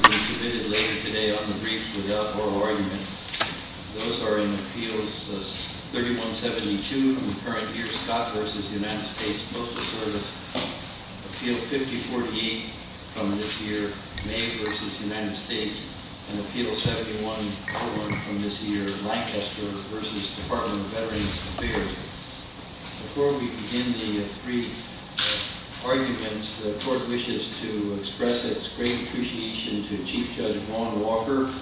Appeal 5048 from this year, May v. United States, and Appeal 7101 from this year, Lancaster v. Department of Veterans Affairs. Before we begin the three arguments, the court wishes to express its great appreciation to Chief Judge Ron Walker,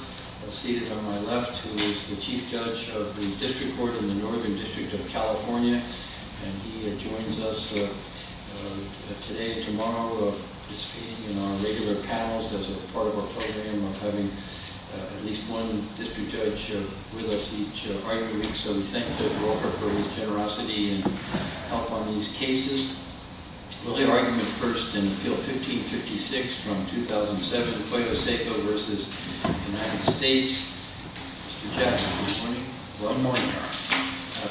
seated on my left, who is the Chief Judge of the District Court in the Northern District of California, and he joins us today and tomorrow, participating in our regular panels as part of our program of having at least one district judge with us each argument. So we thank Judge Walker for his generosity and help on these cases. We'll hear argument first in Appeal 1556 from 2007, Koyo Seiko v. United States. Mr. Chairman, good morning. Good morning.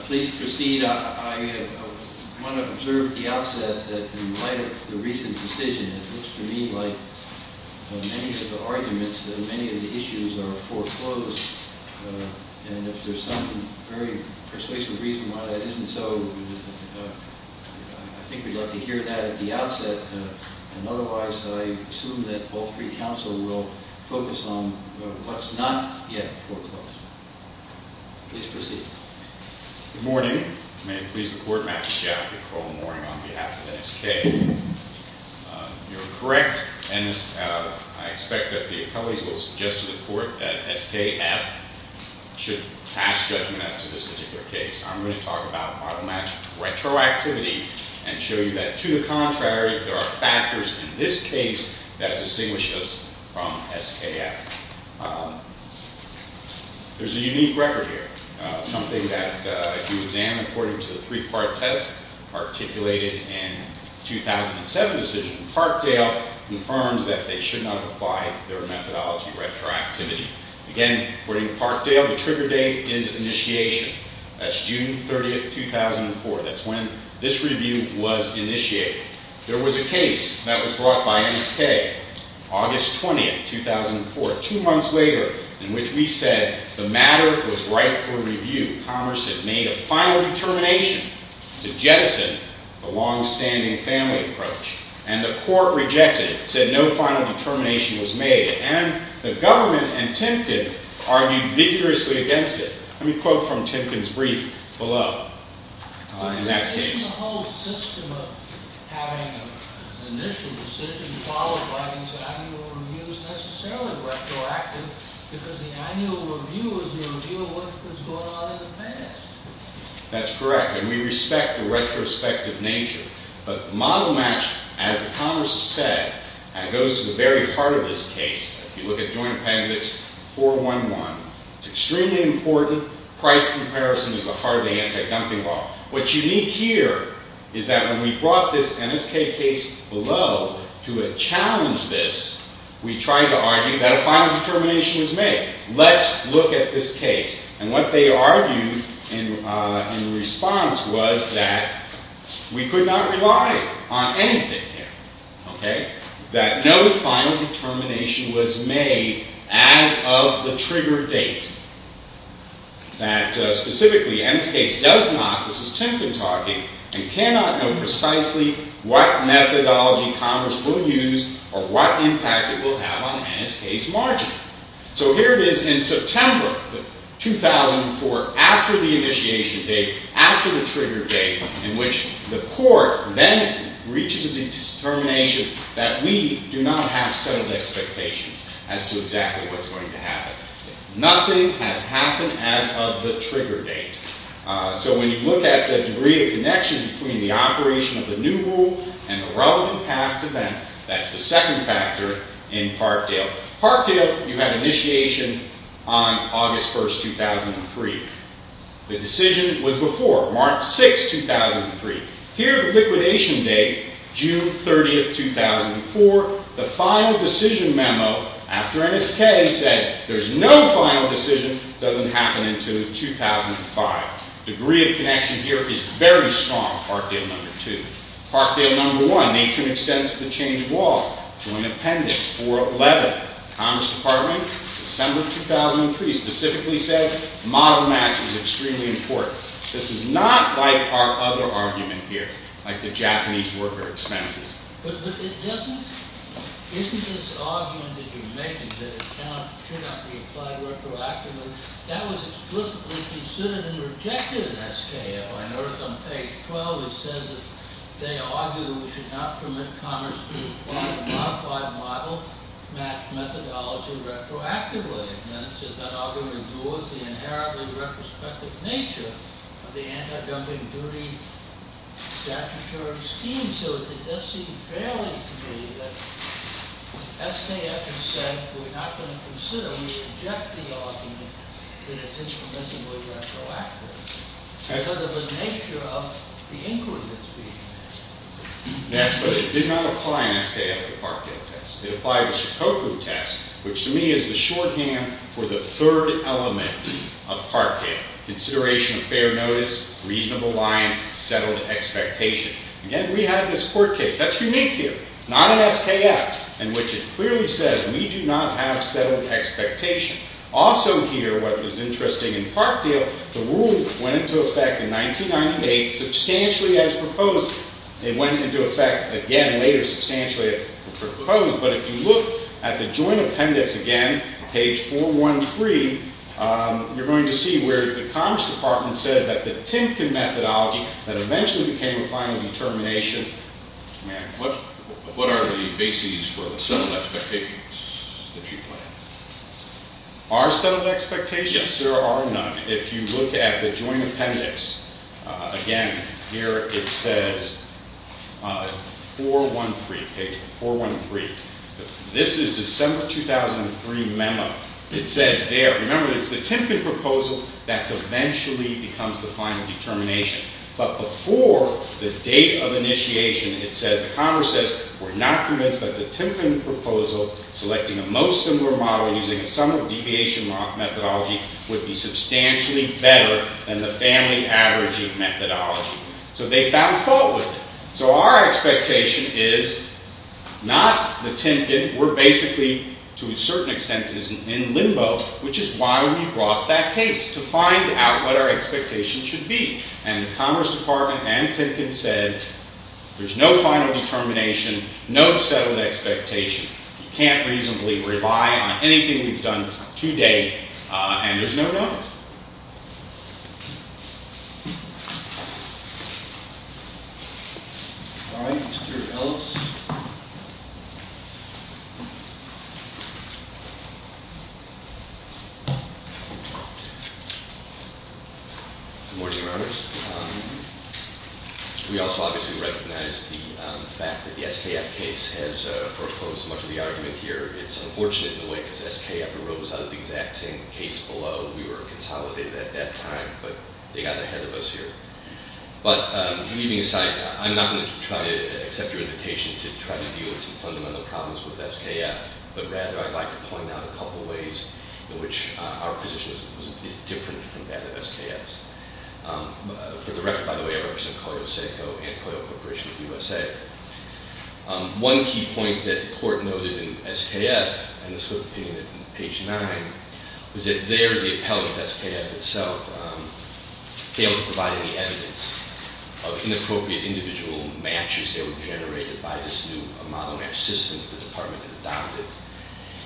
Please proceed. I want to observe the outset that in light of the recent decision, it looks to me like many of the arguments, many of the issues are foreclosed. And if there's some very persuasive reason why that isn't so, I think we'd like to hear that at the outset. And otherwise, I assume that all three counsel will focus on what's not yet foreclosed. Please proceed. Good morning. May it please the Court, Matthew Jaffe, Nicole Moring on behalf of SK. You're correct, and I expect that the appellees will suggest to the Court that SKF should pass judgment as to this particular case. I'm going to talk about model match retroactivity and show you that to the contrary, there are factors in this case that distinguish us from SKF. There's a unique record here, something that if you examine according to the three-part test articulated in the 2007 decision, Parkdale confirms that they should not apply their methodology retroactivity. Again, according to Parkdale, the trigger date is initiation. That's June 30, 2004. That's when this review was initiated. There was a case that was brought by SK, August 20, 2004, two months later, in which we said the matter was ripe for review. Commerce had made a final determination to jettison the longstanding family approach. And the Court rejected it, said no final determination was made. And the government and Timken argued vigorously against it. Let me quote from Timken's brief below in that case. That's correct, and we respect the retrospective nature. But model match, as the Congress has said, goes to the very heart of this case. If you look at Joint Appendix 411, it's extremely important. Price comparison is the heart of the anti-dumping law. What's unique here is that when we brought this NSK case below to challenge this, we tried to argue that a final determination was made. Let's look at this case. And what they argued in response was that we could not rely on anything here. That no final determination was made as of the trigger date. That specifically NSK does not, this is Timken talking, you cannot know precisely what methodology Congress will use or what impact it will have on NSK's margin. So here it is in September 2004, after the initiation date, after the trigger date, in which the Court then reaches a determination that we do not have settled expectations as to exactly what's going to happen. Nothing has happened as of the trigger date. So when you look at the degree of connection between the operation of the new rule and the relevant past event, that's the second factor in Parkdale. Parkdale, you had initiation on August 1, 2003. The decision was before, March 6, 2003. Here, the liquidation date, June 30, 2004, the final decision memo after NSK said there's no final decision, doesn't happen until 2005. Degree of connection here is very strong, Parkdale No. 2. Parkdale No. 1, nature and extent of the change of law, joint appendix, 411. Congress Department, December 2003, specifically says model match is extremely important. This is not like our other argument here, like the Japanese worker expenses. But isn't this argument that you're making, that it should not be applied retroactively, that was explicitly considered and rejected in SKL. I noticed on page 12 it says that they argue that we should not permit Congress to apply the modified model match methodology retroactively. And then it says that argument abhors the inherently retrospective nature of the anti-dumping duty statutory scheme. So it does seem fairly to me that SKF has said we're not going to consider or reject the argument that it's impermissibly retroactive because of the nature of the inquiry that's being asked. Yes, but it did not apply in SKF to Parkdale test. It applied to Shikoku test, which to me is the shorthand for the third element of Parkdale, consideration of fair notice, reasonable lines, settled expectation. Again, we have this court case that's unique here. It's not in SKF, in which it clearly says we do not have settled expectation. Also here, what is interesting in Parkdale, the rule went into effect in 1998, substantially as proposed. It went into effect again later substantially as proposed, but if you look at the joint appendix again, page 413, you're going to see where the Commerce Department says that the Timken methodology that eventually became a final determination. What are the bases for the settled expectations that you plan? Are settled expectations? Yes, there are none. If you look at the joint appendix again, here it says 413, page 413. This is December 2003 memo. It says there, remember, it's the Timken proposal that eventually becomes the final determination. But before the date of initiation, it says, the Commerce says, we're not convinced that the Timken proposal, selecting a most similar model using a sum of deviation methodology, would be substantially better than the family averaging methodology. So they found fault with it. So our expectation is not the Timken. We're basically, to a certain extent, in limbo, which is why we brought that case, to find out what our expectation should be. And the Commerce Department and Timken said, there's no final determination, no settled expectation. You can't reasonably rely on anything we've done to date, and there's no doubt. All right, Mr. Ellis. Good morning, Your Honors. We also obviously recognize the fact that the SKF case has foreclosed much of the argument here. It's unfortunate in a way, because SKF arose out of the exact same case below. We were consolidated at that time, but they got ahead of us here. But leaving aside, I'm not going to try to accept your invitation to try to deal with some fundamental problems with SKF, but rather I'd like to point out a couple of ways in which our position is different from that of SKF's. For the record, by the way, I represent Collier-Saco and Collier Corporation of the USA. One key point that the Court noted in SKF, and this was the opinion on page 9, was that there the appellate SKF itself failed to provide any evidence of inappropriate individual matches that were generated by this new model match system that the Department had adopted.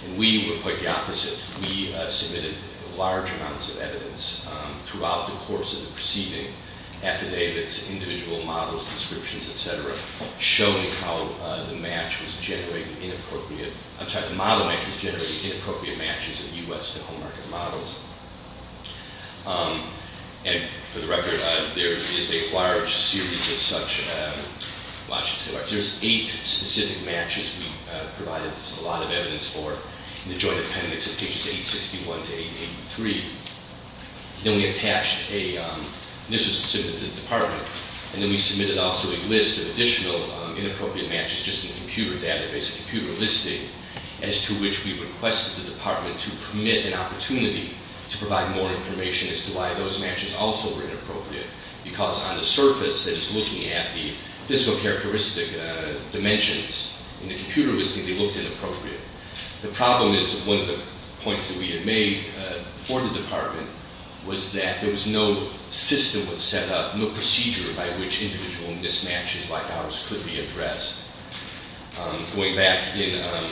And we were quite the opposite. We submitted large amounts of evidence throughout the course of the proceeding, affidavits, individual models, prescriptions, etc., showing how the match was generating inappropriate, I'm sorry, the model match was generating inappropriate matches in the U.S. to home market models. And for the record, there is a large series of such matches. There's eight specific matches we provided a lot of evidence for in the joint appendix of pages 861 to 883. Then we attached a, this was submitted to the Department, and then we submitted also a list of additional inappropriate matches just in the computer database, a computer listing, as to which we requested the Department to permit an opportunity to provide more information as to why those matches also were inappropriate. Because on the surface, that is looking at the physical characteristic dimensions in the computer listing, they looked inappropriate. The problem is, one of the points that we had made for the Department was that there was no system that was set up, no procedure by which individual mismatches like ours could be addressed. Going back in...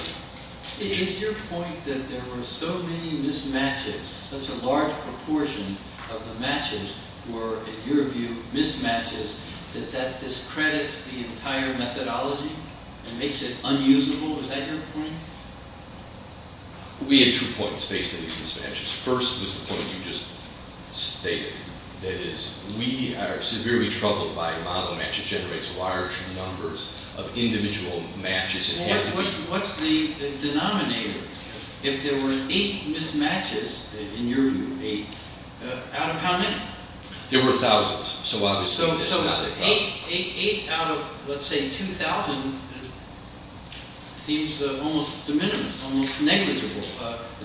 Is your point that there were so many mismatches, such a large proportion of the matches were, in your view, mismatches, that that discredits the entire methodology and makes it unusable? Is that your point? We had two points based on these mismatches. First was the point you just stated. That is, we are severely troubled by a model match that generates large numbers of individual matches. Well, what's the denominator? If there were eight mismatches, in your view, eight, out of how many? There were thousands. So eight out of, let's say, 2,000 seems almost de minimis, almost negligible.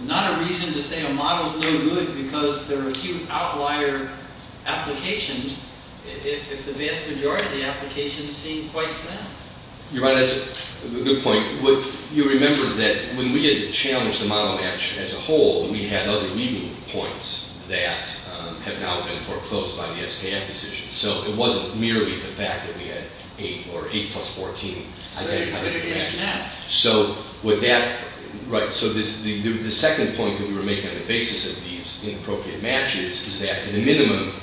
Not a reason to say a model is no good because there are a few outlier applications, if the vast majority of the applications seem quite sad. You're right, that's a good point. You remember that when we had challenged the model match as a whole, we had other legal points that have now been foreclosed by the SKF decision. So it wasn't merely the fact that we had eight or eight plus 14. I've already covered it in this match. So the second point that we were making on the basis of these inappropriate matches is that, at a minimum,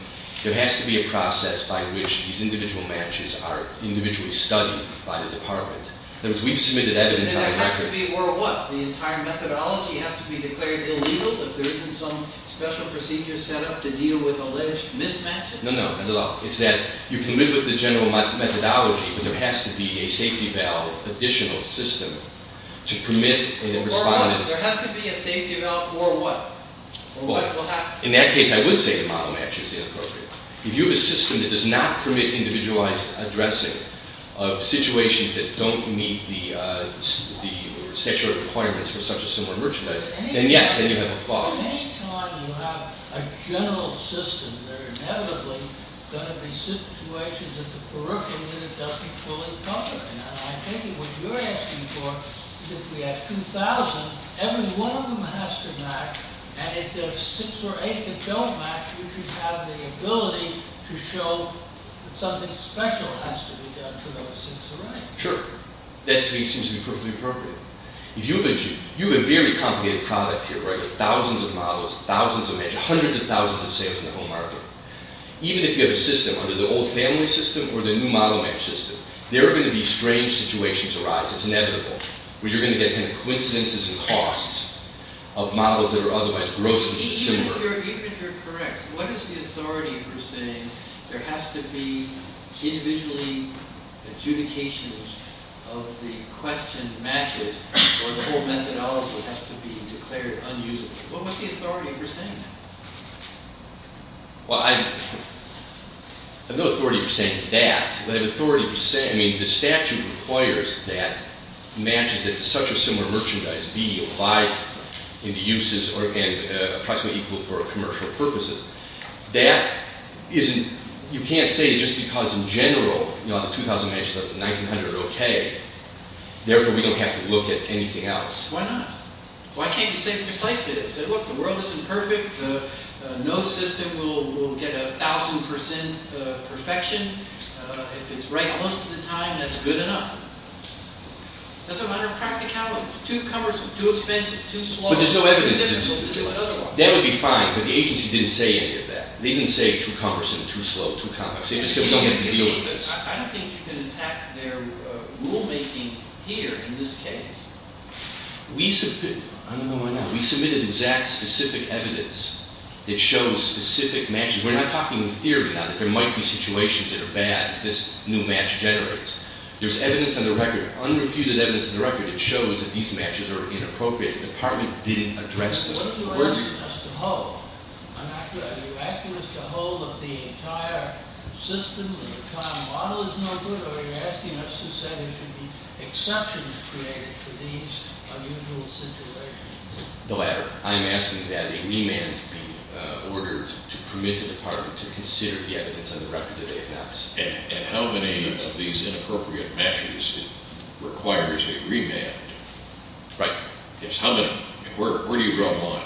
there has to be a process by which these individual matches are individually studied by the department. In other words, we've submitted evidence on a record. There has to be a or a what? The entire methodology has to be declared illegal if there isn't some special procedure set up to deal with alleged mismatches? No, no, not at all. It's that you can live with the general methodology, but there has to be a safety valve additional system to permit a response. Or a what? There has to be a safety valve or a what? Or what will happen? In that case, I would say the model match is inappropriate. If you have a system that does not permit individualized addressing of situations that don't meet the statutory requirements for such or similar merchandise, then yes, then you have a flaw. Any time you have a general system, there are inevitably going to be situations that the peripheral unit doesn't fully cover. And I'm thinking what you're asking for is if we have 2,000, every one of them has to match. And if there are 6 or 8 that don't match, we should have the ability to show that something special has to be done for those 6 or 8. Sure. That to me seems to be perfectly appropriate. You have a very complicated product here, right, with thousands of models, thousands of measures, hundreds of thousands of sales in the home market. Even if you have a system under the old family system or the new model match system, there are going to be strange situations arise. It's inevitable. You're going to get coincidences and costs of models that are otherwise grossly similar. Even if you're correct, what is the authority for saying there has to be individually adjudications of the questioned matches or the whole methodology has to be declared unusable? What was the authority for saying that? Well, I have no authority for saying that. But I have authority for saying, I mean, the statute requires that matches that such or similar merchandise be applied in the uses and approximately equal for commercial purposes. That isn't – you can't say just because in general, you know, the 2,000 matches up to 1,900 are okay, therefore we don't have to look at anything else. Why not? Why can't you say precisely that? Look, the world isn't perfect. No system will get 1,000 percent perfection. If it's right most of the time, that's good enough. That's a matter of practicality. Too cumbersome, too expensive, too slow. But there's no evidence of this. That would be fine, but the agency didn't say any of that. They didn't say too cumbersome, too slow, too complex. They just said we don't have to deal with this. I don't think you can attack their rulemaking here in this case. I don't know why not. We submitted exact specific evidence that shows specific matches. We're not talking in theory now that there might be situations that are bad if this new match generates. There's evidence on the record, unrefuted evidence on the record that shows that these matches are inappropriate. The Department didn't address this. What are you asking us to hold? Are you asking us to hold that the entire system, the entire model is no good, or are you asking us to say there should be exceptions created for these unusual situations? The latter. I'm asking that a remand be ordered to permit the Department to consider the evidence on the record that they've announced. And how many of these inappropriate matches requires a remand? Right. Where do you draw the line?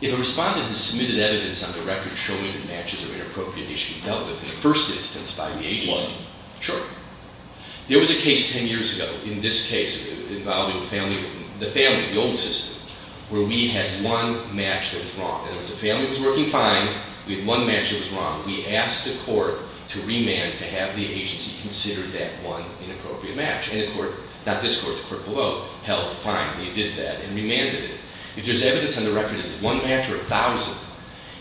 If a respondent has submitted evidence on the record showing that matches are inappropriate, they should be dealt with in the first instance by the agency. One. Sure. There was a case 10 years ago in this case involving the family, the old system, where we had one match that was wrong. And it was a family that was working fine. We had one match that was wrong. We asked the court to remand to have the agency consider that one inappropriate match. And the court, not this court, the court below, held fine. They did that and remanded it. If there's evidence on the record that it's one match or a thousand,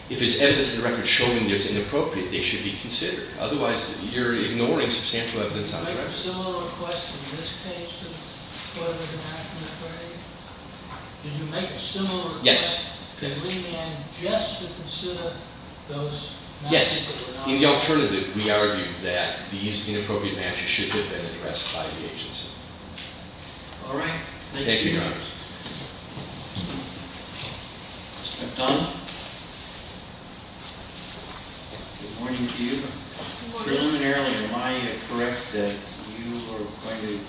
if there's evidence on the record showing that it's inappropriate, they should be considered. Otherwise, you're ignoring substantial evidence on the record. Did you make a similar request in this case to further the match inquiry? Did you make a similar request to remand just to consider those matches? Yes. In the alternative, we argue that these inappropriate matches should have been addressed by the agency. All right. Thank you, Your Honors. Ms. McDonough? Good morning to you. Good morning. Preliminarily, am I correct that you are going to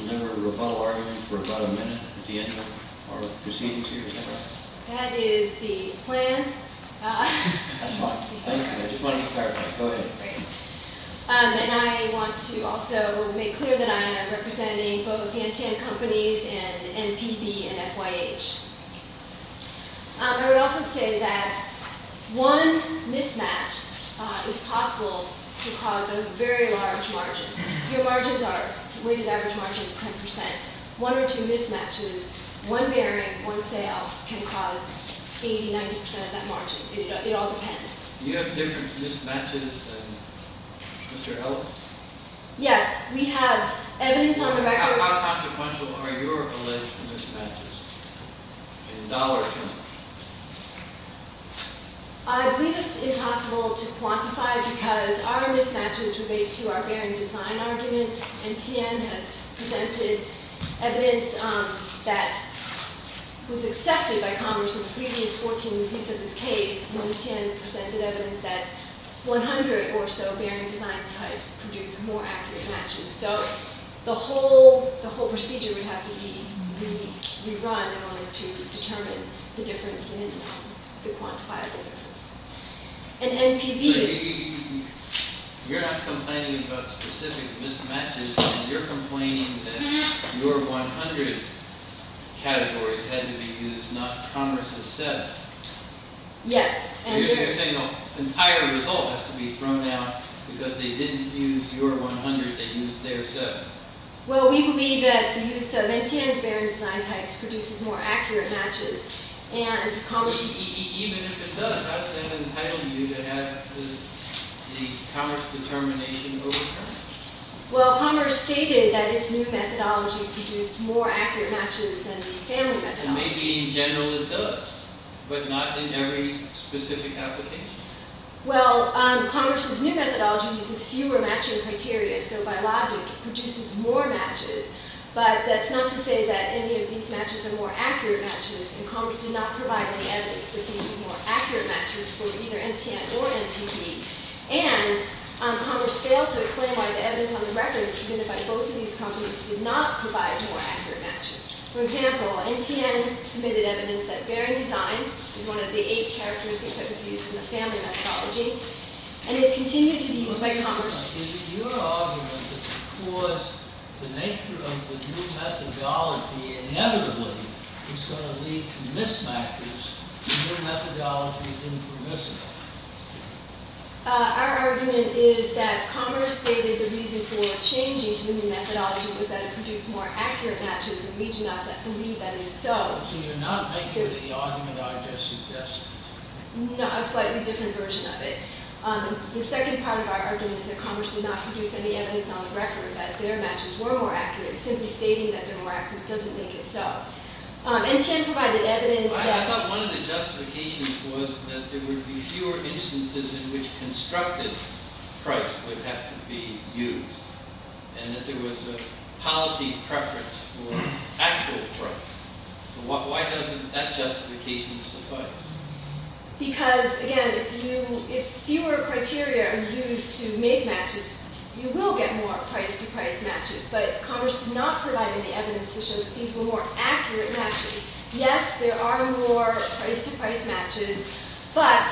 deliver a rebuttal argument for about a minute at the end of our proceedings here? Is that right? That is the plan. That's fine. Thank you. I just wanted to clarify. Go ahead. Great. And I want to also make clear that I am representing both the NTN Companies and NPB and FYH. I would also say that one mismatch is possible to cause a very large margin. Your margins are, weighted average margin is 10%. One or two mismatches, one bearing, one sale can cause 80%, 90% of that margin. It all depends. Do you have different mismatches than Mr. Ellis? Yes. We have evidence on the record. How consequential are your alleged mismatches in dollar terms? I believe it's impossible to quantify because our mismatches relate to our bearing design argument. NTN has presented evidence that was accepted by Congress in the previous 14 repeats of this case. NTN presented evidence that 100 or so bearing design types produce more accurate matches. So the whole procedure would have to be rerun in order to determine the difference in the quantifiable difference. But you're not complaining about specific mismatches. You're complaining that your 100 categories had to be used, not Congress's 7. Yes. You're saying the entire result has to be thrown out because they didn't use your 100, they used their 7. Well, we believe that the use of NTN's bearing design types produces more accurate matches. Even if it does, how does that entitle you to have the Congress determination overturned? Well, Congress stated that its new methodology produced more accurate matches than the family methodology. Maybe in general it does, but not in every specific application. Well, Congress's new methodology uses fewer matching criteria. So by logic, it produces more matches. But that's not to say that any of these matches are more accurate matches. And Congress did not provide any evidence that these were more accurate matches for either NTN or MPP. And Congress failed to explain why the evidence on the record submitted by both of these companies did not provide more accurate matches. For example, NTN submitted evidence that bearing design is one of the 8 characteristics that was used in the family methodology. And it continued to be used by Congress. Is it your argument that because the nature of the new methodology inevitably is going to lead to mismatches, the new methodology is impermissible? Our argument is that Congress stated the reason for changing to the new methodology was that it produced more accurate matches and we do not believe that is so. So you're not making the argument I just suggested? No, a slightly different version of it. The second part of our argument is that Congress did not produce any evidence on the record that their matches were more accurate, simply stating that they're more accurate doesn't make it so. NTN provided evidence that... I thought one of the justifications was that there would be fewer instances in which constructive price would have to be used and that there was a policy preference for actual price. Why doesn't that justification suffice? Because, again, if fewer criteria are used to make matches, you will get more price-to-price matches. But Congress did not provide any evidence to show that these were more accurate matches. Yes, there are more price-to-price matches, but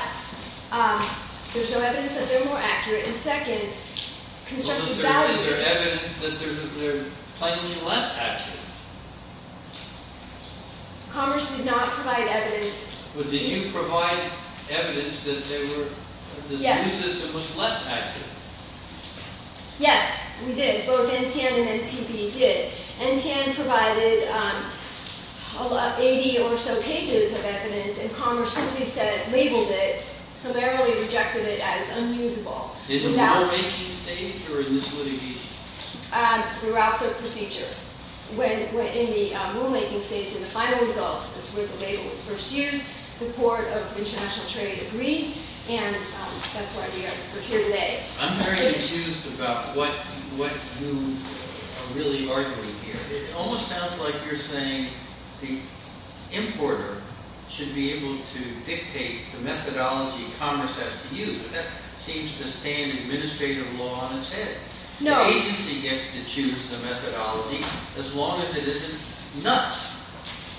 there's no evidence that they're more accurate. And second, constructive values... Is there evidence that they're plainly less accurate? Congress did not provide evidence... But did you provide evidence that this new system was less accurate? Yes, we did. Both NTN and NPP did. NTN provided 80 or so pages of evidence and Congress simply labeled it, summarily rejected it as unusable. In the bar making stage or in this litigation? Throughout the procedure. In the rule making stage, in the final results, that's where the label was first used, the Court of International Trade agreed, and that's why we are here today. I'm very enthused about what you are really arguing here. It almost sounds like you're saying the importer should be able to dictate the methodology Congress has to use, and that seems to stay in administrative law on its head. No. The agency gets to choose the methodology as long as it isn't nuts.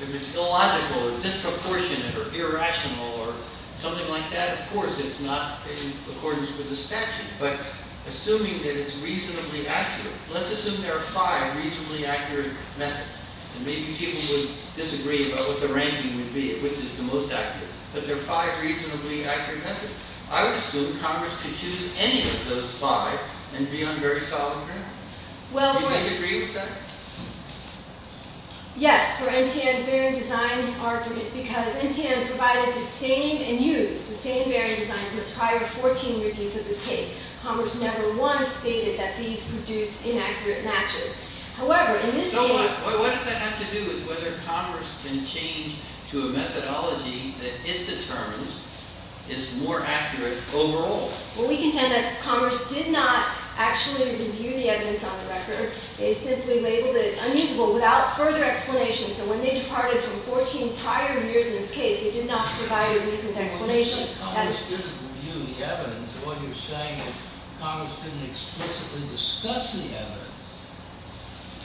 If it's illogical or disproportionate or irrational or something like that, of course it's not in accordance with the statute. But assuming that it's reasonably accurate, let's assume there are five reasonably accurate methods. And maybe people would disagree about what the ranking would be, which is the most accurate. But there are five reasonably accurate methods. I would assume Congress could choose any of those five and be on very solid ground. Do you disagree with that? Yes, for NTN's bearing design argument, because NTN provided the same and used the same bearing design for the prior 14 reviews of this case. Congress never once stated that these produced inaccurate matches. So what does that have to do with whether Congress can change to a methodology that it determines is more accurate overall? Well, we contend that Congress did not actually review the evidence on the record. They simply labeled it unusable without further explanation. So when they departed from 14 prior years in this case, they did not provide a reasoned explanation. Congress didn't review the evidence. What you're saying is Congress didn't explicitly discuss the evidence.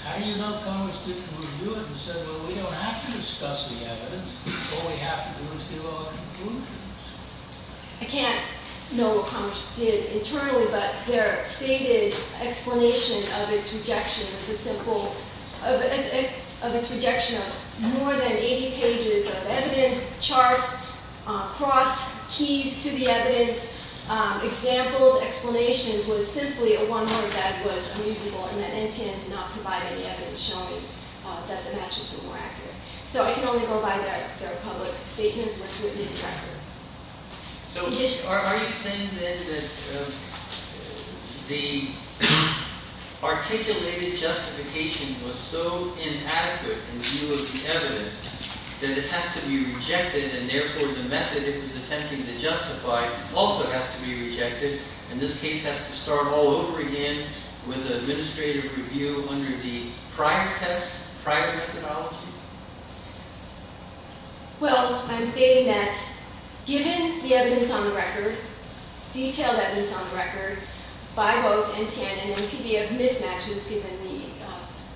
How do you know Congress didn't review it and say, well, we don't have to discuss the evidence. All we have to do is give our conclusions. I can't know what Congress did internally, but their stated explanation of its rejection of more than 80 pages of evidence, charts, cross-keys to the evidence, examples, explanations, was simply a one-word that was unusable. And that NTN did not provide any evidence showing that the matches were more accurate. So I can only go by their public statements, which would be the record. So are you saying then that the articulated justification was so inadequate in view of the evidence that it has to be rejected and therefore the method it was attempting to justify also has to be rejected, and this case has to start all over again with an administrative review under the prior test, prior methodology? Well, I'm stating that given the evidence on the record, detailed evidence on the record, by both NTN and NPBF mismatches, given the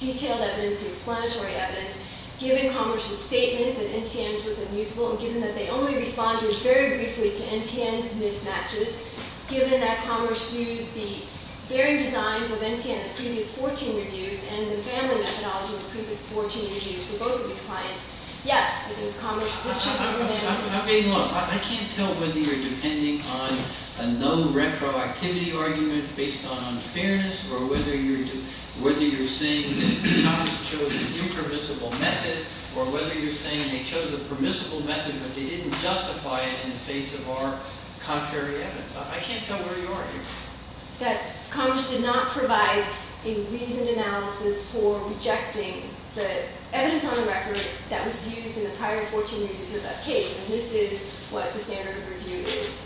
detailed evidence, the explanatory evidence, given Congress' statement that NTN was unusable and given that they only responded very briefly to NTN's mismatches, given that Congress used the varying designs of NTN in the previous 14 reviews and the family methodology of the previous 14 reviews for both of these clients, yes, I mean, Congress, this should be remembered. I'm being lost. I can't tell whether you're depending on a no retroactivity argument based on unfairness or whether you're saying that Congress chose an impermissible method or whether you're saying they chose a permissible method but they didn't justify it in the face of our contrary evidence. I can't tell where you are here. I'm saying that Congress did not provide a reasoned analysis for rejecting the evidence on the record that was used in the prior 14 reviews of that case and this is what the standard of review is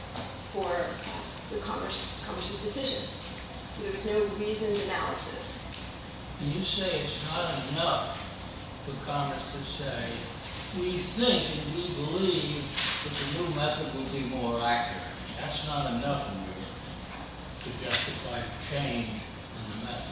for Congress' decision. There was no reasoned analysis. You say it's not enough for Congress to say we think and we believe that the new method will be more accurate. That's not enough to justify change in the method.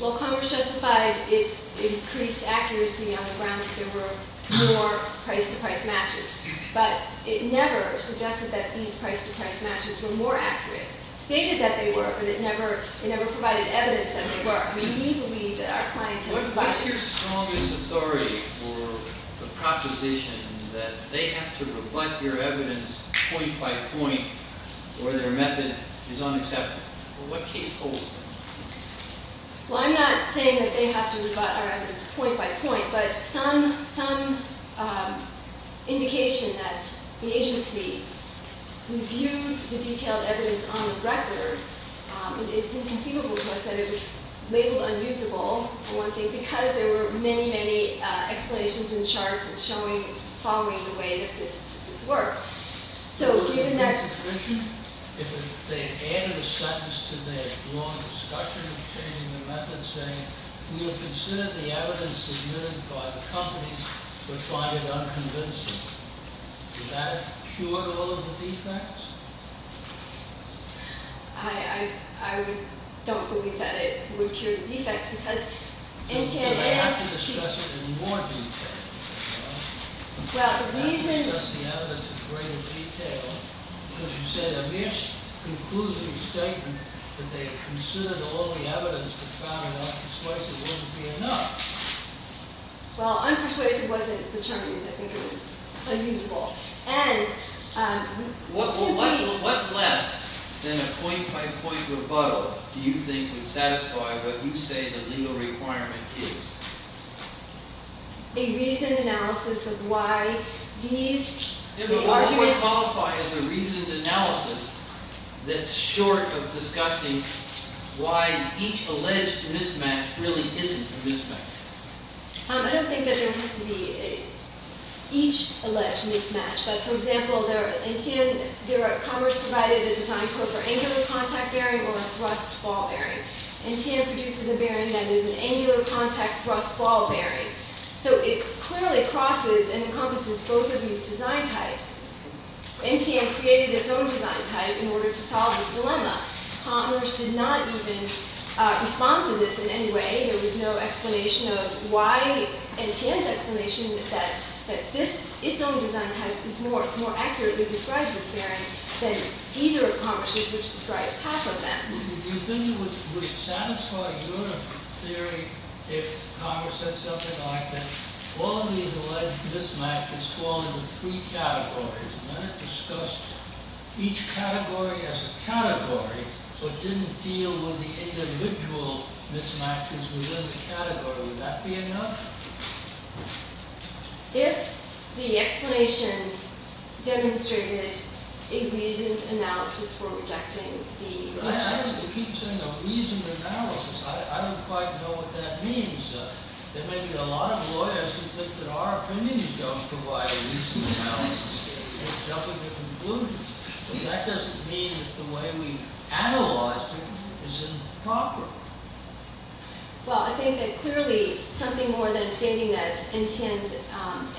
Well, Congress justified its increased accuracy on the grounds that there were more price-to-price matches but it never suggested that these price-to-price matches were more accurate. It stated that they were but it never provided evidence that they were. I mean, we believe that our clients have rebutted. What is your strongest authority for the proposition that they have to rebut your evidence point-by-point or their method is unacceptable? What case holds them? Well, I'm not saying that they have to rebut our evidence point-by-point but some indication that the agency reviewed the detailed evidence on the record, it's inconceivable to us that it was labeled unusable, for one thing, because there were many, many explanations in the charts following the way that this worked. So, given that... If they added a sentence to their long discussion of changing the method saying, we will consider the evidence submitted by the companies which find it unconvincing, would that have cured all of the defects? I don't believe that it would cure the defects because... They have to discuss it in more detail. Well, the reason... They have to discuss the evidence in greater detail because you said a mis-concluding statement that they had considered all the evidence but found that unpersuasive wouldn't be enough. Well, unpersuasive wasn't the term used. I think it was unusable. Well, what less than a point-by-point rebuttal do you think would satisfy what you say the legal requirement is? A reasoned analysis of why these... It would more than qualify as a reasoned analysis that's short of discussing why each alleged mismatch really isn't a mismatch. I don't think that there have to be each alleged mismatch. But, for example, there are... Commerce provided a design code for angular contact bearing or a thrust ball bearing. NTM produces a bearing that is an angular contact thrust ball bearing. So, it clearly crosses and encompasses both of these design types. NTM created its own design type in order to solve this dilemma. Commerce did not even respond to this in any way. There was no explanation of why... NTM's explanation that its own design type is more... more accurately describes this bearing than either of Commerce's which describes half of them. Do you think it would satisfy your theory if Commerce said something like that all of these alleged mismatches fall into three categories and let it discuss each category as a category but didn't deal with the individual mismatches within the category? Would that be enough? If the explanation demonstrated a reasoned analysis for rejecting the mismatches... I actually keep saying a reasoned analysis. I don't quite know what that means. There may be a lot of lawyers who think that our opinions don't provide a reasoned analysis. They jump into conclusions. That doesn't mean that the way we analyzed it is improper. Well, I think that clearly something more than stating that NTM's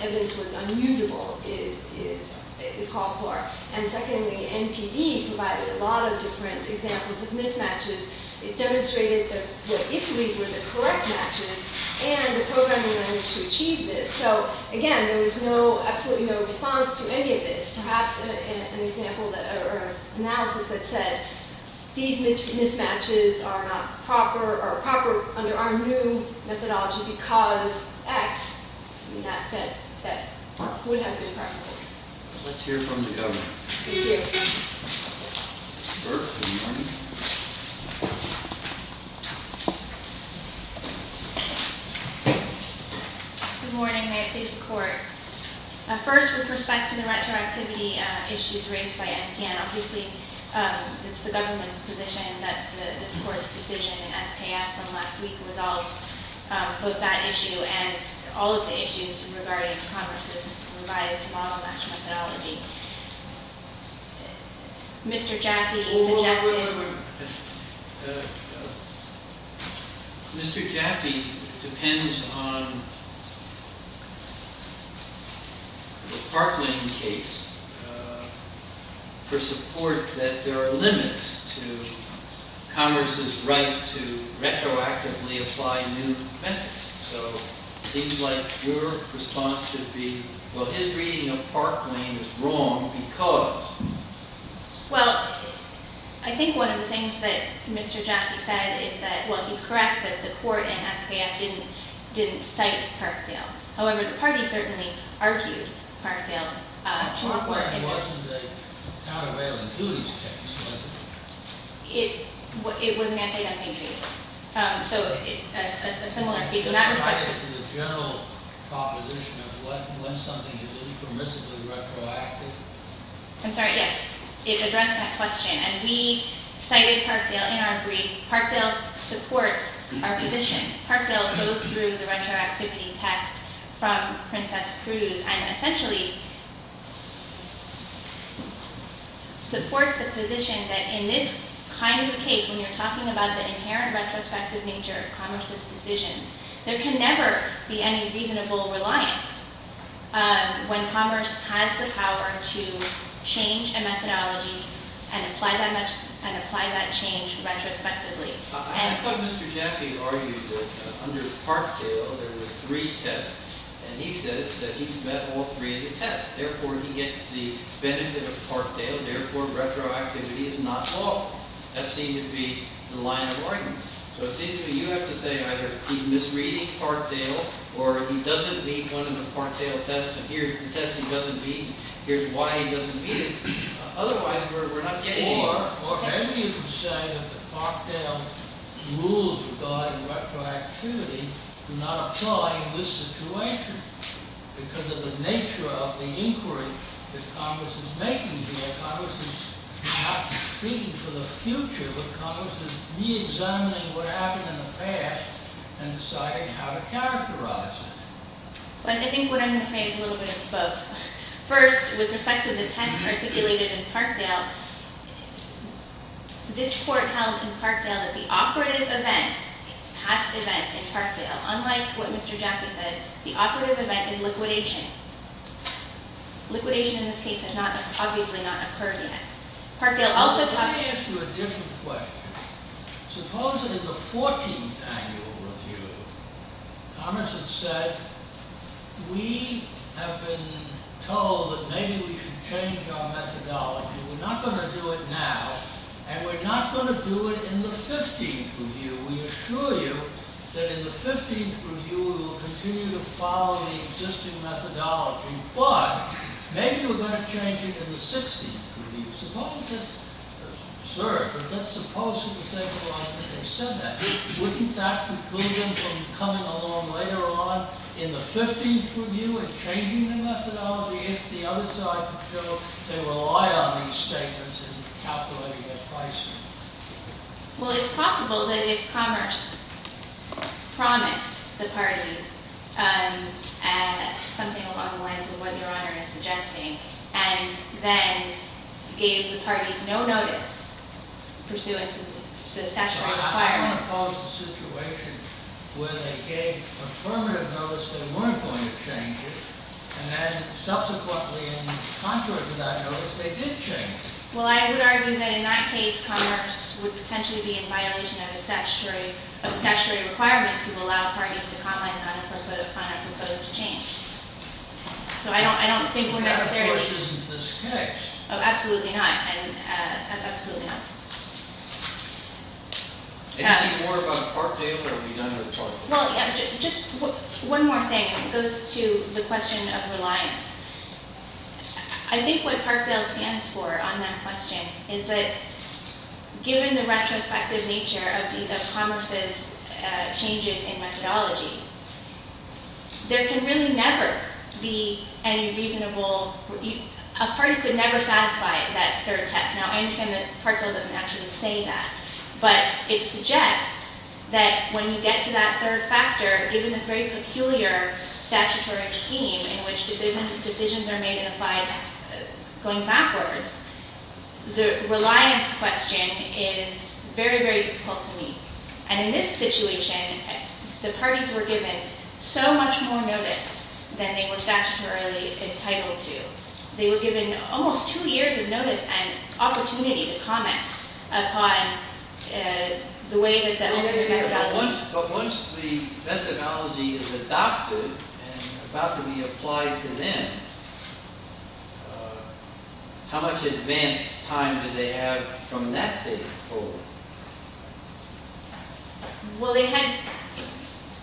evidence was unusable is called for. And secondly, NPD provided a lot of different examples of mismatches. It demonstrated that what it believed were the correct matches and the programming language to achieve this. So, again, there was absolutely no response to any of this. Perhaps an example or analysis that said these mismatches are not proper or are proper under our new methodology because X. That would have been proper. Let's hear from the Governor. Thank you. Good morning. May it please the Court. First, with respect to the retroactivity issues raised by NTM, obviously it's the government's position that this Court's decision in SKF from last week resolves both that issue and all of the issues regarding Congress's revised model match methodology. Mr. Jaffe suggested... Mr. Jaffe depends on the Park Lane case for support that there are limits to Congress's right to retroactively apply new methods. So it seems like your response should be, well, his reading of Park Lane is wrong because... I think one of the things that Mr. Jaffe said is that, well, he's correct that the Court in SKF didn't cite Parkdale. However, the party certainly argued Parkdale. Parkdale wasn't a countervailing duties case, was it? It was an anti-dumping case. So it's a similar case in that respect. It's a general proposition of when something is impermissibly retroactive. I'm sorry, yes. It addressed that question. And we cited Parkdale in our brief. Parkdale supports our position. Parkdale goes through the retroactivity test from Princess Cruz and essentially supports the position that in this kind of a case, when you're talking about the inherent retrospective nature of Congress's decisions, there can never be any reasonable reliance when Congress has the power to change a methodology and apply that change retrospectively. I thought Mr. Jaffe argued that under Parkdale, there were three tests, and he says that he's met all three of the tests. Therefore, he gets the benefit of Parkdale. Therefore, retroactivity is not solved. That seemed to be the line of argument. So it seems to me you have to say either he's misreading Parkdale or he doesn't meet one of the Parkdale tests and here's the test he doesn't meet and here's why he doesn't meet it. Otherwise, we're not getting anywhere. Or maybe you can say that the Parkdale rules regarding retroactivity do not apply in this situation because of the nature of the inquiry that Congress is making here. Congress is not speaking for the future, but Congress is reexamining what happened in the past and deciding how to characterize it. I think what I'm going to say is a little bit of both. First, with respect to the test articulated in Parkdale, this court held in Parkdale that the operative event, past event in Parkdale, unlike what Mr. Jaffe said, the operative event is liquidation. Liquidation in this case has obviously not occurred yet. Let me ask you a different question. Suppose in the 14th annual review, Congress had said, we have been told that maybe we should change our methodology. We're not going to do it now and we're not going to do it in the 15th review. We assure you that in the 15th review we will continue to follow the existing methodology, but maybe we're going to change it in the 16th review. Suppose that's absurd, but let's suppose for the sake of argument they said that. Wouldn't that preclude them from coming along later on in the 15th review and changing their methodology if the other side could show they rely on these statements in calculating their pricing? Well, it's possible that if Commerce promised the parties something along the lines of what Your Honor is suggesting and then gave the parties no notice pursuant to the statutory requirements. Well, I don't want to pose the situation where they gave affirmative notice they weren't going to change it and then subsequently in contrary to that notice they did change it. Well, I would argue that in that case Commerce would potentially be in violation of the statutory requirement to allow parties to comment on a proposed change. So I don't think we're necessarily- That, of course, isn't the case. Absolutely not. Absolutely not. Anything more about Parkdale or are we done with Parkdale? Just one more thing. It goes to the question of reliance. I think what Parkdale stands for on that question is that given the retrospective nature of Commerce's changes in methodology there can really never be any reasonable- a party could never satisfy that third test. Now, I understand that Parkdale doesn't actually say that, but it suggests that when you get to that third factor given this very peculiar statutory scheme in which decisions are made and applied going backwards the reliance question is very, very difficult to meet. And in this situation the parties were given so much more notice than they were statutorily entitled to. They were given almost two years of notice and opportunity to comment upon the way that- But once the methodology is adopted and about to be applied to them how much advanced time did they have from that date forward? Well, they had-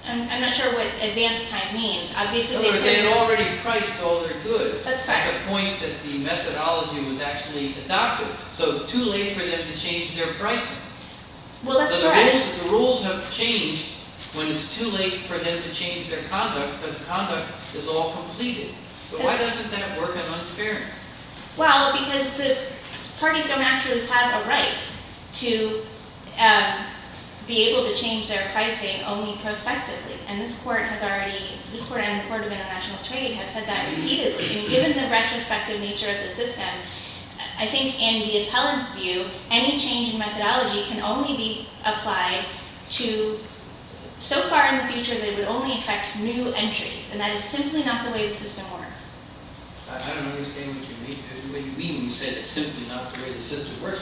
I'm not sure what advanced time means. They had already priced all their goods at the point that the methodology was actually adopted. So too late for them to change their pricing. Well, that's correct. But the rules have changed when it's too late for them to change their conduct because conduct is all completed. So why doesn't that work in unfairness? Well, because the parties don't actually have a right to be able to change their pricing only prospectively. And this Court has already- this Court and the Court of International Trade have said that repeatedly. Given the retrospective nature of the system, I think in the appellant's view any change in methodology can only be applied to- so far in the future they would only affect new entries. And that is simply not the way the system works. I don't understand what you mean when you say that it's simply not the way the system works.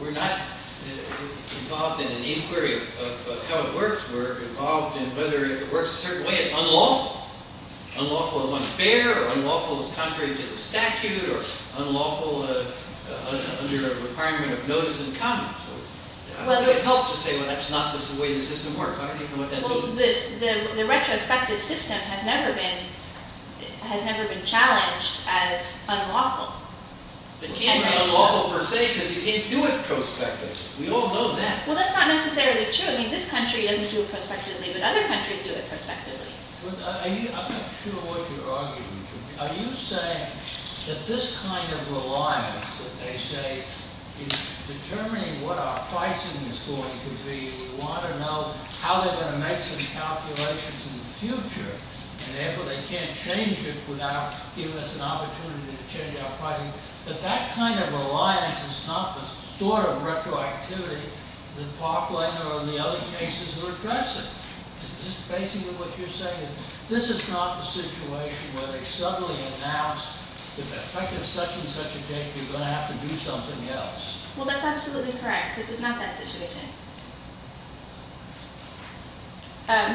We're not involved in an inquiry of how it works. We're involved in whether if it works a certain way it's unlawful. Unlawful is unfair, or unlawful is contrary to the statute, or unlawful under the requirement of notice in common. So it would help to say that's not the way the system works. I don't even know what that means. Well, the retrospective system has never been challenged as unlawful. It can't be unlawful per se because you can't do it prospectively. We all know that. Well, that's not necessarily true. I mean, this country doesn't do it prospectively, but other countries do it prospectively. I'm not sure what you're arguing. Are you saying that this kind of reliance that they say is determining what our pricing is going to be, we want to know how they're going to make some calculations in the future, and therefore they can't change it without giving us an opportunity to change our pricing, that that kind of reliance is not the sort of retroactivity that Parkland or the other cases are addressing? Is this basically what you're saying? This is not the situation where they suddenly announce that if I can set you such a date, you're going to have to do something else. Well, that's absolutely correct. This is not that situation.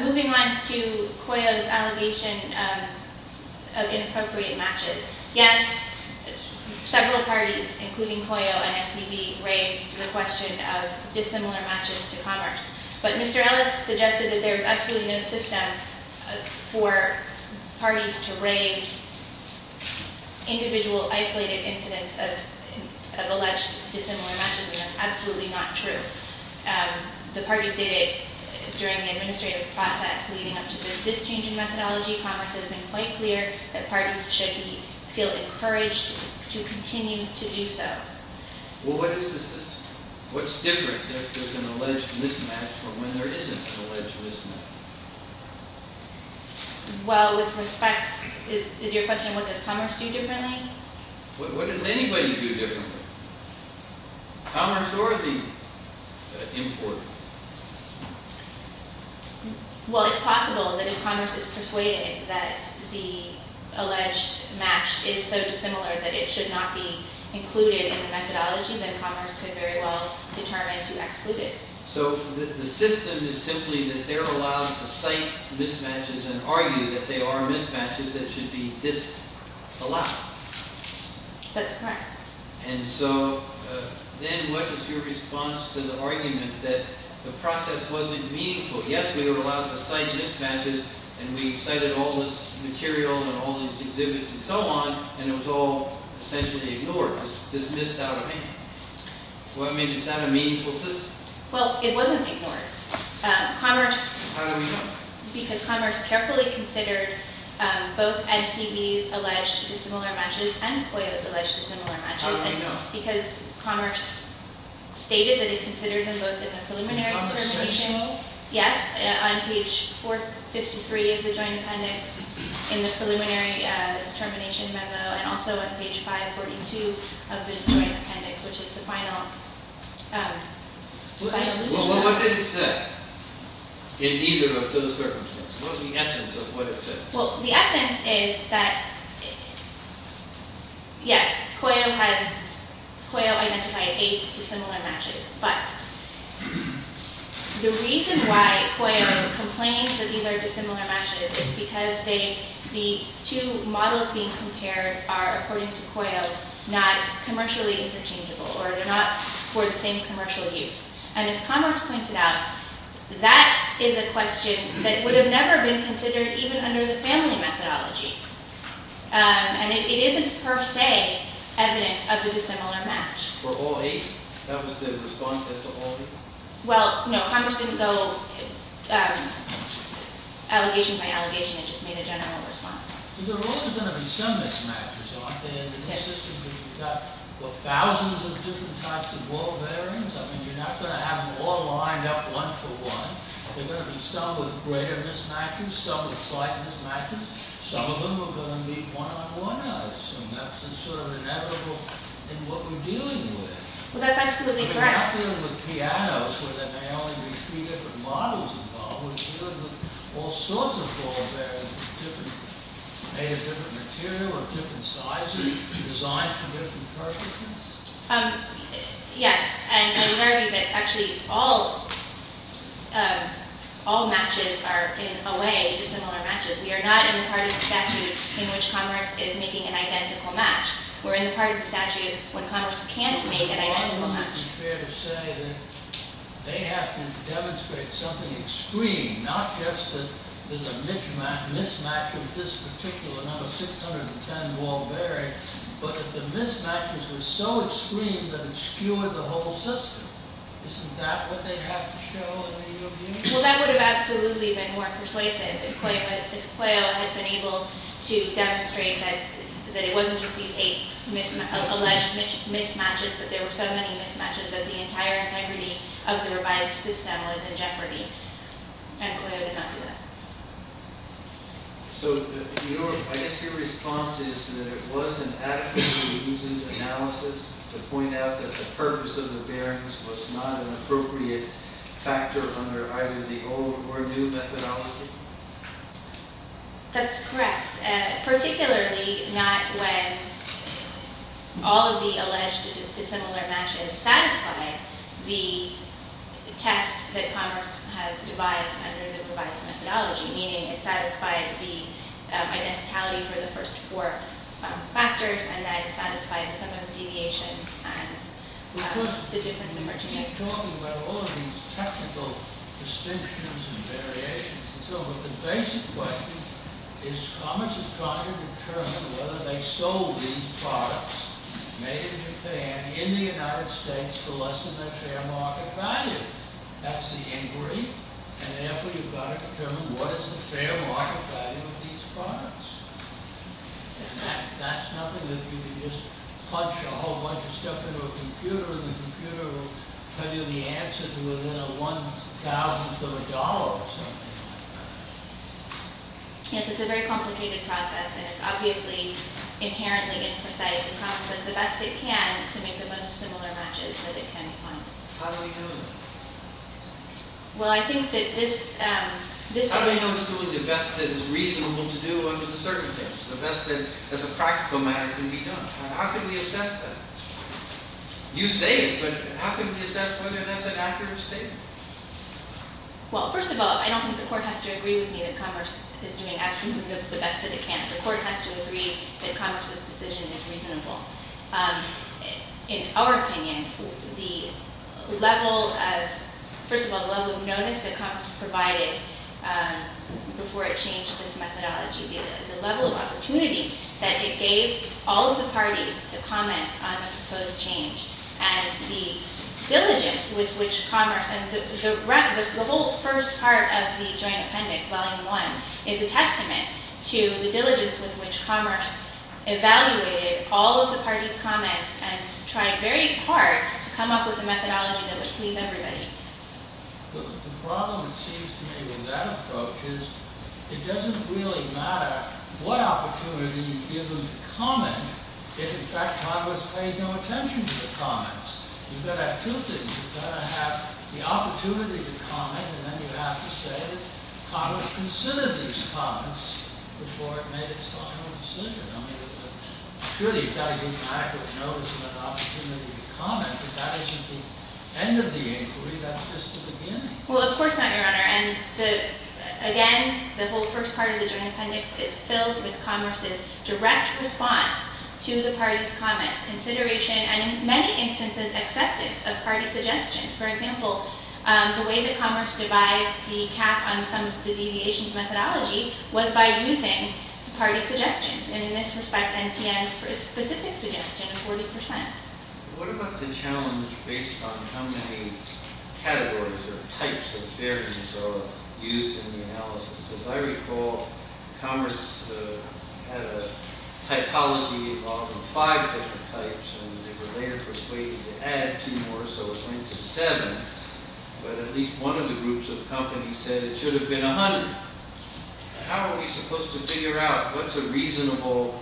Moving on to Coyote's allegation of inappropriate matches. Yes, several parties, including Coyote and FPB, raised the question of dissimilar matches to commerce. But Mr. Ellis suggested that there is absolutely no system for parties to raise individual isolated incidents of alleged dissimilar matches, and that's absolutely not true. The parties stated during the administrative process leading up to this change in methodology, commerce has been quite clear that parties should feel encouraged to continue to do so. Well, what is the system? What's different if there's an alleged mismatch from when there isn't an alleged mismatch? Well, with respect, is your question what does commerce do differently? What does anybody do differently? Commerce or the import? Well, it's possible that if commerce is persuaded that the alleged match is so dissimilar that it should not be included in the methodology, then commerce could very well determine to exclude it. So the system is simply that they're allowed to cite mismatches and argue that they are mismatches that should be disallowed. That's correct. And so then what is your response to the argument that the process wasn't meaningful? Yes, we were allowed to cite mismatches, and we cited all this material and all these exhibits and so on, and it was all essentially ignored, dismissed out of hand. Well, I mean, is that a meaningful system? Well, it wasn't ignored. How do we know? Because commerce carefully considered both NPB's alleged dissimilar matches and COYO's alleged dissimilar matches. How do we know? In the commerce section? And also on page 542 of the Joint Appendix, which is the final… Well, what did it say in either of those circumstances? What was the essence of what it said? Well, the essence is that, yes, COYO identified eight dissimilar matches, but the reason why COYO complains that these are dissimilar matches is because the two models being compared are, according to COYO, not commercially interchangeable, or they're not for the same commercial use. And as commerce pointed out, that is a question that would have never been considered even under the family methodology, and it isn't per se evidence of the dissimilar match. Were all eight? That was the response as to all eight? Well, no, commerce didn't go allegation by allegation. It just made a general response. But there are also going to be some mismatches, aren't there? Yes. In a system where you've got, well, thousands of different types of world variants. I mean, you're not going to have them all lined up one for one. There are going to be some with greater mismatches, some with slight mismatches. Some of them are going to meet one-on-one, I assume. That's sort of inevitable in what we're dealing with. Well, that's absolutely correct. We're not dealing with pianos where there may only be three different models involved. We're dealing with all sorts of world variants, made of different material, of different sizes, designed for different purposes. Yes, and I would argue that actually all matches are, in a way, dissimilar matches. We are not in the part of the statute in which commerce is making an identical match. We're in the part of the statute when commerce can't make an identical match. Wouldn't it be fair to say that they have to demonstrate something extreme, not just that there's a mismatch with this particular number, 610 Walbury, but that the mismatches were so extreme that it skewed the whole system? Isn't that what they have to show in the review? Well, that would have absolutely been more persuasive if Cuello had been able to demonstrate that it wasn't just these eight alleged mismatches, but there were so many mismatches that the entire integrity of the revised system was in jeopardy. And Cuello did not do that. So, I guess your response is that it wasn't adequate to use in analysis to point out that the purpose of the bearings was not an appropriate factor under either the old or new methodology? That's correct, particularly not when all of the alleged dissimilar matches satisfy the test that commerce has devised under the revised methodology, meaning it satisfied the identicality for the first four factors and then satisfied some of the deviations and the difference in pertinence. You keep talking about all of these technical distinctions and variations and so on, but the basic question is commerce is trying to determine whether they sold these products made in Japan in the United States for less than their fair market value. That's the inquiry, and therefore you've got to determine what is the fair market value of these products. That's nothing that you can just punch a whole bunch of stuff into a computer and the computer will tell you the answer within a one thousandth of a dollar or something. Yes, it's a very complicated process and it's obviously inherently imprecise and commerce does the best it can to make the most similar matches that it can find. How do we know that? Well, I think that this... Commerce is doing the best that is reasonable to do under the circumstances, the best that as a practical matter can be done. How can we assess that? You say it, but how can we assess whether that's an accurate statement? Well, first of all, I don't think the court has to agree with me that commerce is doing absolutely the best that it can. The court has to agree that commerce's decision is reasonable. In our opinion, the level of... before it changed this methodology, the level of opportunity that it gave all of the parties to comment on this change and the diligence with which commerce... The whole first part of the joint appendix, volume one, is a testament to the diligence with which commerce evaluated all of the parties' comments and tried very hard to come up with a methodology that would please everybody. The problem, it seems to me, with that approach is it doesn't really matter what opportunity you give them to comment if in fact commerce pays no attention to the comments. You've got to have two things. You've got to have the opportunity to comment and then you have to say that commerce considered these comments before it made its final decision. I mean, surely you've got to give an accurate notice of an opportunity to comment, but that isn't the end of the inquiry, that's just the beginning. Well, of course not, Your Honor. And again, the whole first part of the joint appendix is filled with commerce's direct response to the parties' comments, consideration, and in many instances, acceptance of parties' suggestions. For example, the way that commerce devised the cap on some of the deviations methodology was by using the parties' suggestions. And in this respect, NTN's specific suggestion of 40%. What about the challenge based on how many categories or types of variance are used in the analysis? As I recall, commerce had a typology involving five different types and they were later persuaded to add two more, so it went to seven. But at least one of the groups of companies said it should have been 100. How are we supposed to figure out what's a reasonable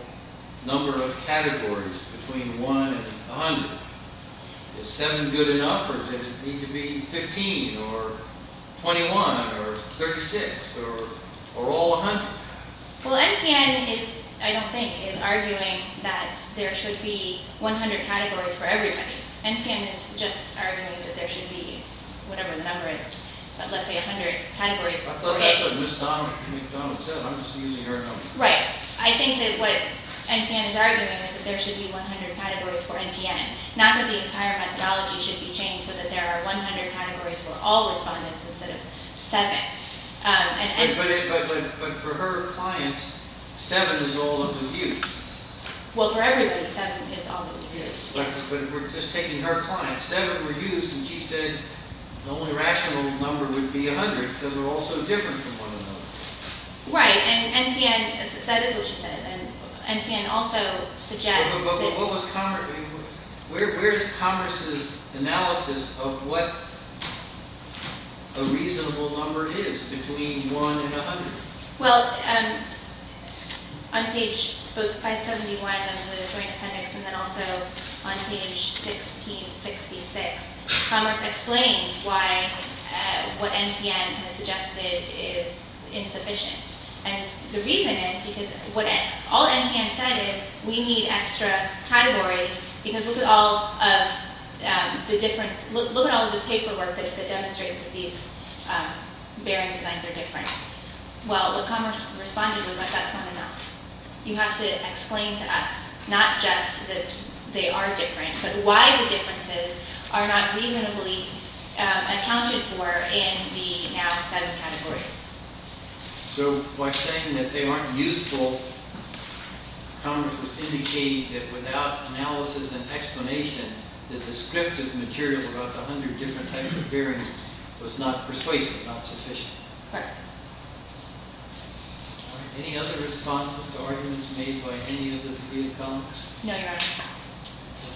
number of categories between one and 100? Is seven good enough or does it need to be 15 or 21 or 36 or all 100? Well, NTN is, I don't think, is arguing that there should be 100 categories for everybody. NTN is just arguing that there should be, whatever the number is, but let's say 100 categories for four days. I thought that's what Ms. Donovan said. I'm just using her number. Right. I think that what NTN is arguing is that there should be 100 categories for NTN, not that the entire methodology should be changed so that there are 100 categories for all respondents instead of seven. But for her clients, seven is all that was used. Well, for everybody, seven is all that was used. But we're just taking her clients. Seven were used and she said the only rational number would be 100 because they're all so different from one another. Right. And NTN, that is what she says. And NTN also suggests that... But what was Congress, where is Congress' analysis of what a reasonable number is between one and 100? Well, on page both 571 under the Joint Appendix and then also on page 1666, Congress explains why what NTN has suggested is insufficient. And the reason is because what all NTN said is we need extra categories because look at all of the difference. Look at all of this paperwork that demonstrates that these bearing designs are different. Well, what Congress responded was that that's not enough. You have to explain to us not just that they are different, but why the differences are not reasonably accounted for in the now seven categories. So by saying that they aren't useful, Congress was indicating that without analysis and explanation, the descriptive material about the 100 different types of bearings was not persuasive, not sufficient. Correct. Any other responses to arguments made by any of the three economists? No, Your Honor.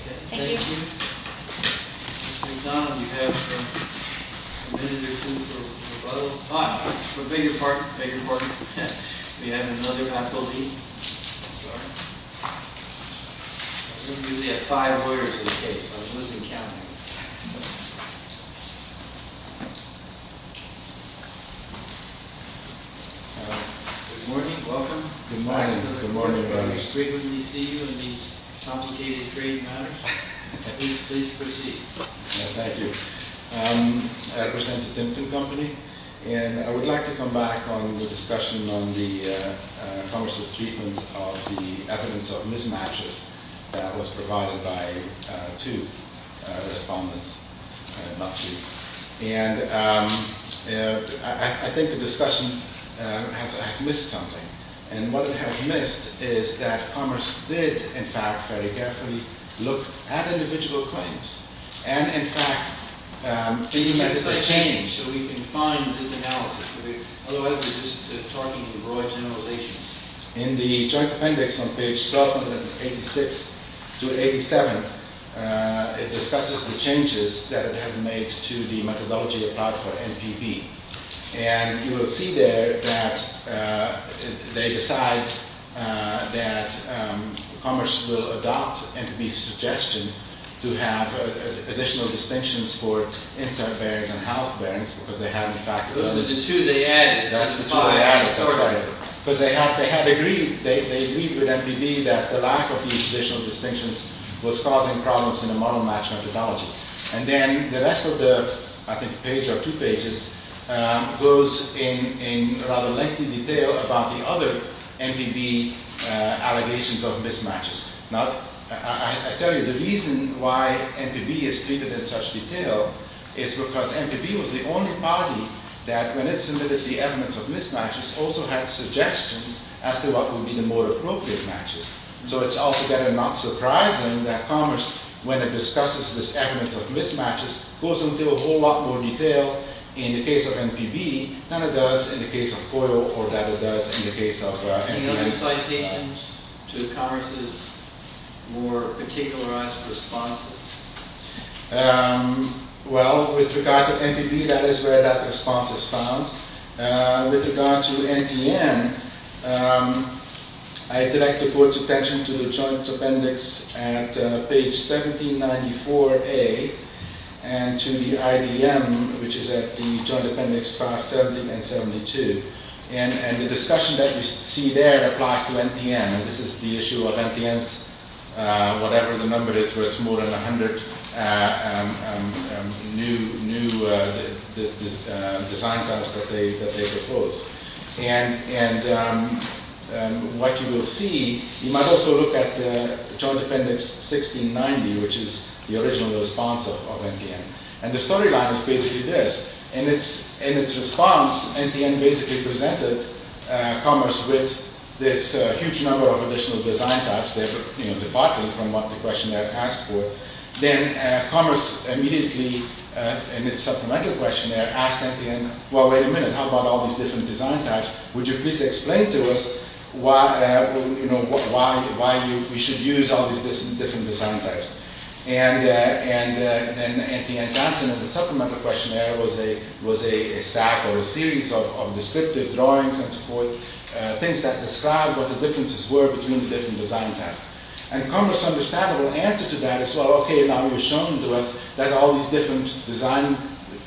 Okay. Thank you. Mr. McDonald, you have a minute or two for rebuttal. For the bigger part, we have another athlete. We only have five lawyers in the case. I was losing count. Good morning. Welcome. Good morning. Good morning, Your Honor. We frequently see you in these complicated trade matters. Please proceed. Thank you. I represent the Timken Company, and I would like to come back on the discussion on the Congress's treatment of the evidence of mismatches that was provided by two respondents, not three. And I think the discussion has missed something. And what it has missed is that Commerce did, in fact, very carefully look at individual claims and, in fact, made the necessary change. So we can find this analysis. Otherwise, we're just talking broad generalizations. In the Joint Appendix on page 1286-87, it discusses the changes that it has made to the methodology applied for MPB. And you will see there that they decide that Commerce will adopt MPB's suggestion to have additional distinctions for insert bearings and house bearings, because they had, in fact, Those were the two they added. That's the two they added. That's right. Because they had agreed with MPB that the lack of these additional distinctions was causing problems in the model-match methodology. And then the rest of the page or two pages goes in rather lengthy detail about the other MPB allegations of mismatches. Now, I tell you, the reason why MPB is treated in such detail is because MPB was the only party that, when it submitted the evidence of mismatches, also had suggestions as to what would be the more appropriate matches. So it's altogether not surprising that Commerce, when it discusses this evidence of mismatches, goes into a whole lot more detail in the case of MPB than it does in the case of COIL or that it does in the case of MPB. Any other citations to Commerce's more particularized responses? Well, with regard to MPB, that is where that response is found. With regard to NTN, I direct the Board's attention to the joint appendix at page 1794A and to the IDM, which is at the joint appendix 570 and 72. And the discussion that you see there applies to NTN. This is the issue of NTN's whatever the number is where it's more than 100 new design types that they propose. And what you will see, you might also look at the joint appendix 1690, which is the original response of NTN. And the storyline is basically this. In its response, NTN basically presented Commerce with this huge number of additional design types. They're departing from what the questionnaire asked for. Then Commerce immediately, in its supplemental questionnaire, asked NTN, well, wait a minute, how about all these different design types? Would you please explain to us why we should use all these different design types? And NTN's answer in the supplemental questionnaire was a stack or a series of descriptive drawings and so forth, things that described what the differences were between the different design types. And Commerce's understandable answer to that is, well, okay, now you're showing to us that all these different design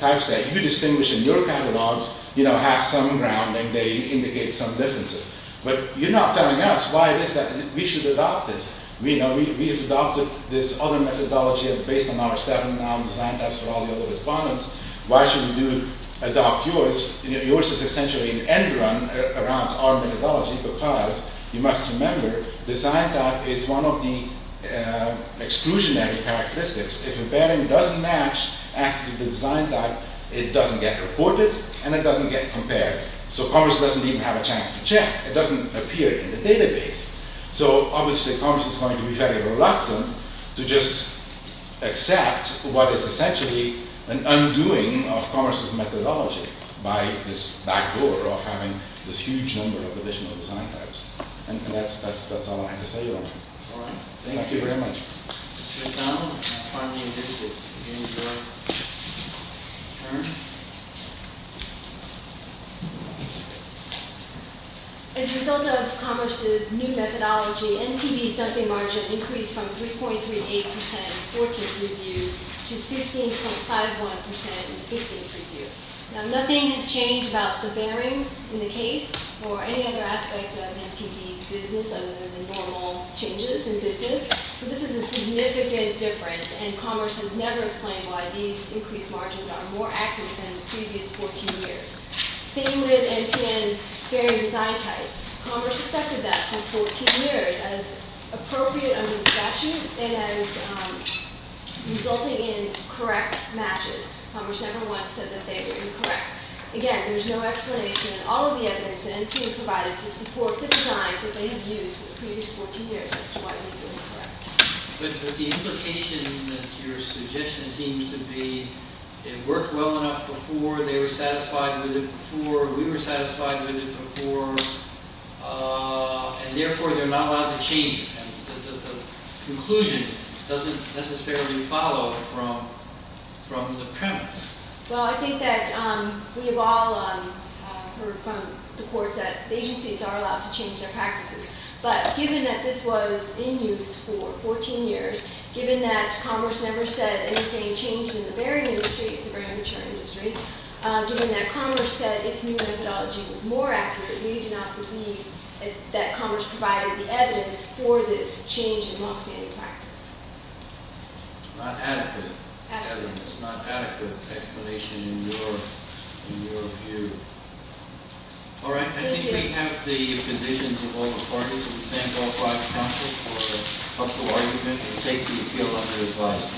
types that you distinguish in your catalogs have some grounding. They indicate some differences. But you're not telling us why it is that we should adopt this. We have adopted this other methodology based on our seven design types for all the other respondents. Why should we adopt yours? Yours is essentially an end run around our methodology because you must remember design type is one of the exclusionary characteristics. If a pairing doesn't match as to the design type, it doesn't get reported and it doesn't get compared. So Commerce doesn't even have a chance to check. It doesn't appear in the database. So obviously Commerce is going to be very reluctant to just accept what is essentially an undoing of Commerce's methodology by this backdoor of having this huge number of additional design types. And that's all I had to say about it. Thank you very much. Mr. O'Donnell, our funding visit is adjourned. As a result of Commerce's new methodology, NPV's dumping margin increased from 3.38% in the 14th review to 15.51% in the 15th review. Now nothing has changed about the bearings in the case or any other aspect of NPV's business other than normal changes in business. So this is a significant difference and Commerce has never explained why these increased margins are more accurate than the previous 14 years. Same with NTN's bearing design types. Commerce accepted that for 14 years as appropriate under the statute and as resulting in correct matches. Commerce never once said that they were incorrect. Again, there's no explanation in all of the evidence that NTN provided to support the designs that they have used for the previous 14 years as to why these were incorrect. But the implication that your suggestion seems to be it worked well enough before, they were satisfied with it before, we were satisfied with it before, and therefore they're not allowed to change it. The conclusion doesn't necessarily follow from the premise. Well, I think that we have all heard from the courts that agencies are allowed to change their practices. But given that this was in use for 14 years, given that Commerce never said anything changed in the bearing industry, it's a very mature industry, given that Commerce said its new methodology was more accurate, we do not believe that Commerce provided the evidence for this change in long-standing practice. It's not adequate evidence. It's not adequate explanation in your view. All right, I think we have the positions of all the parties. We thank all five counsels for a thoughtful argument and take the appeal under advice.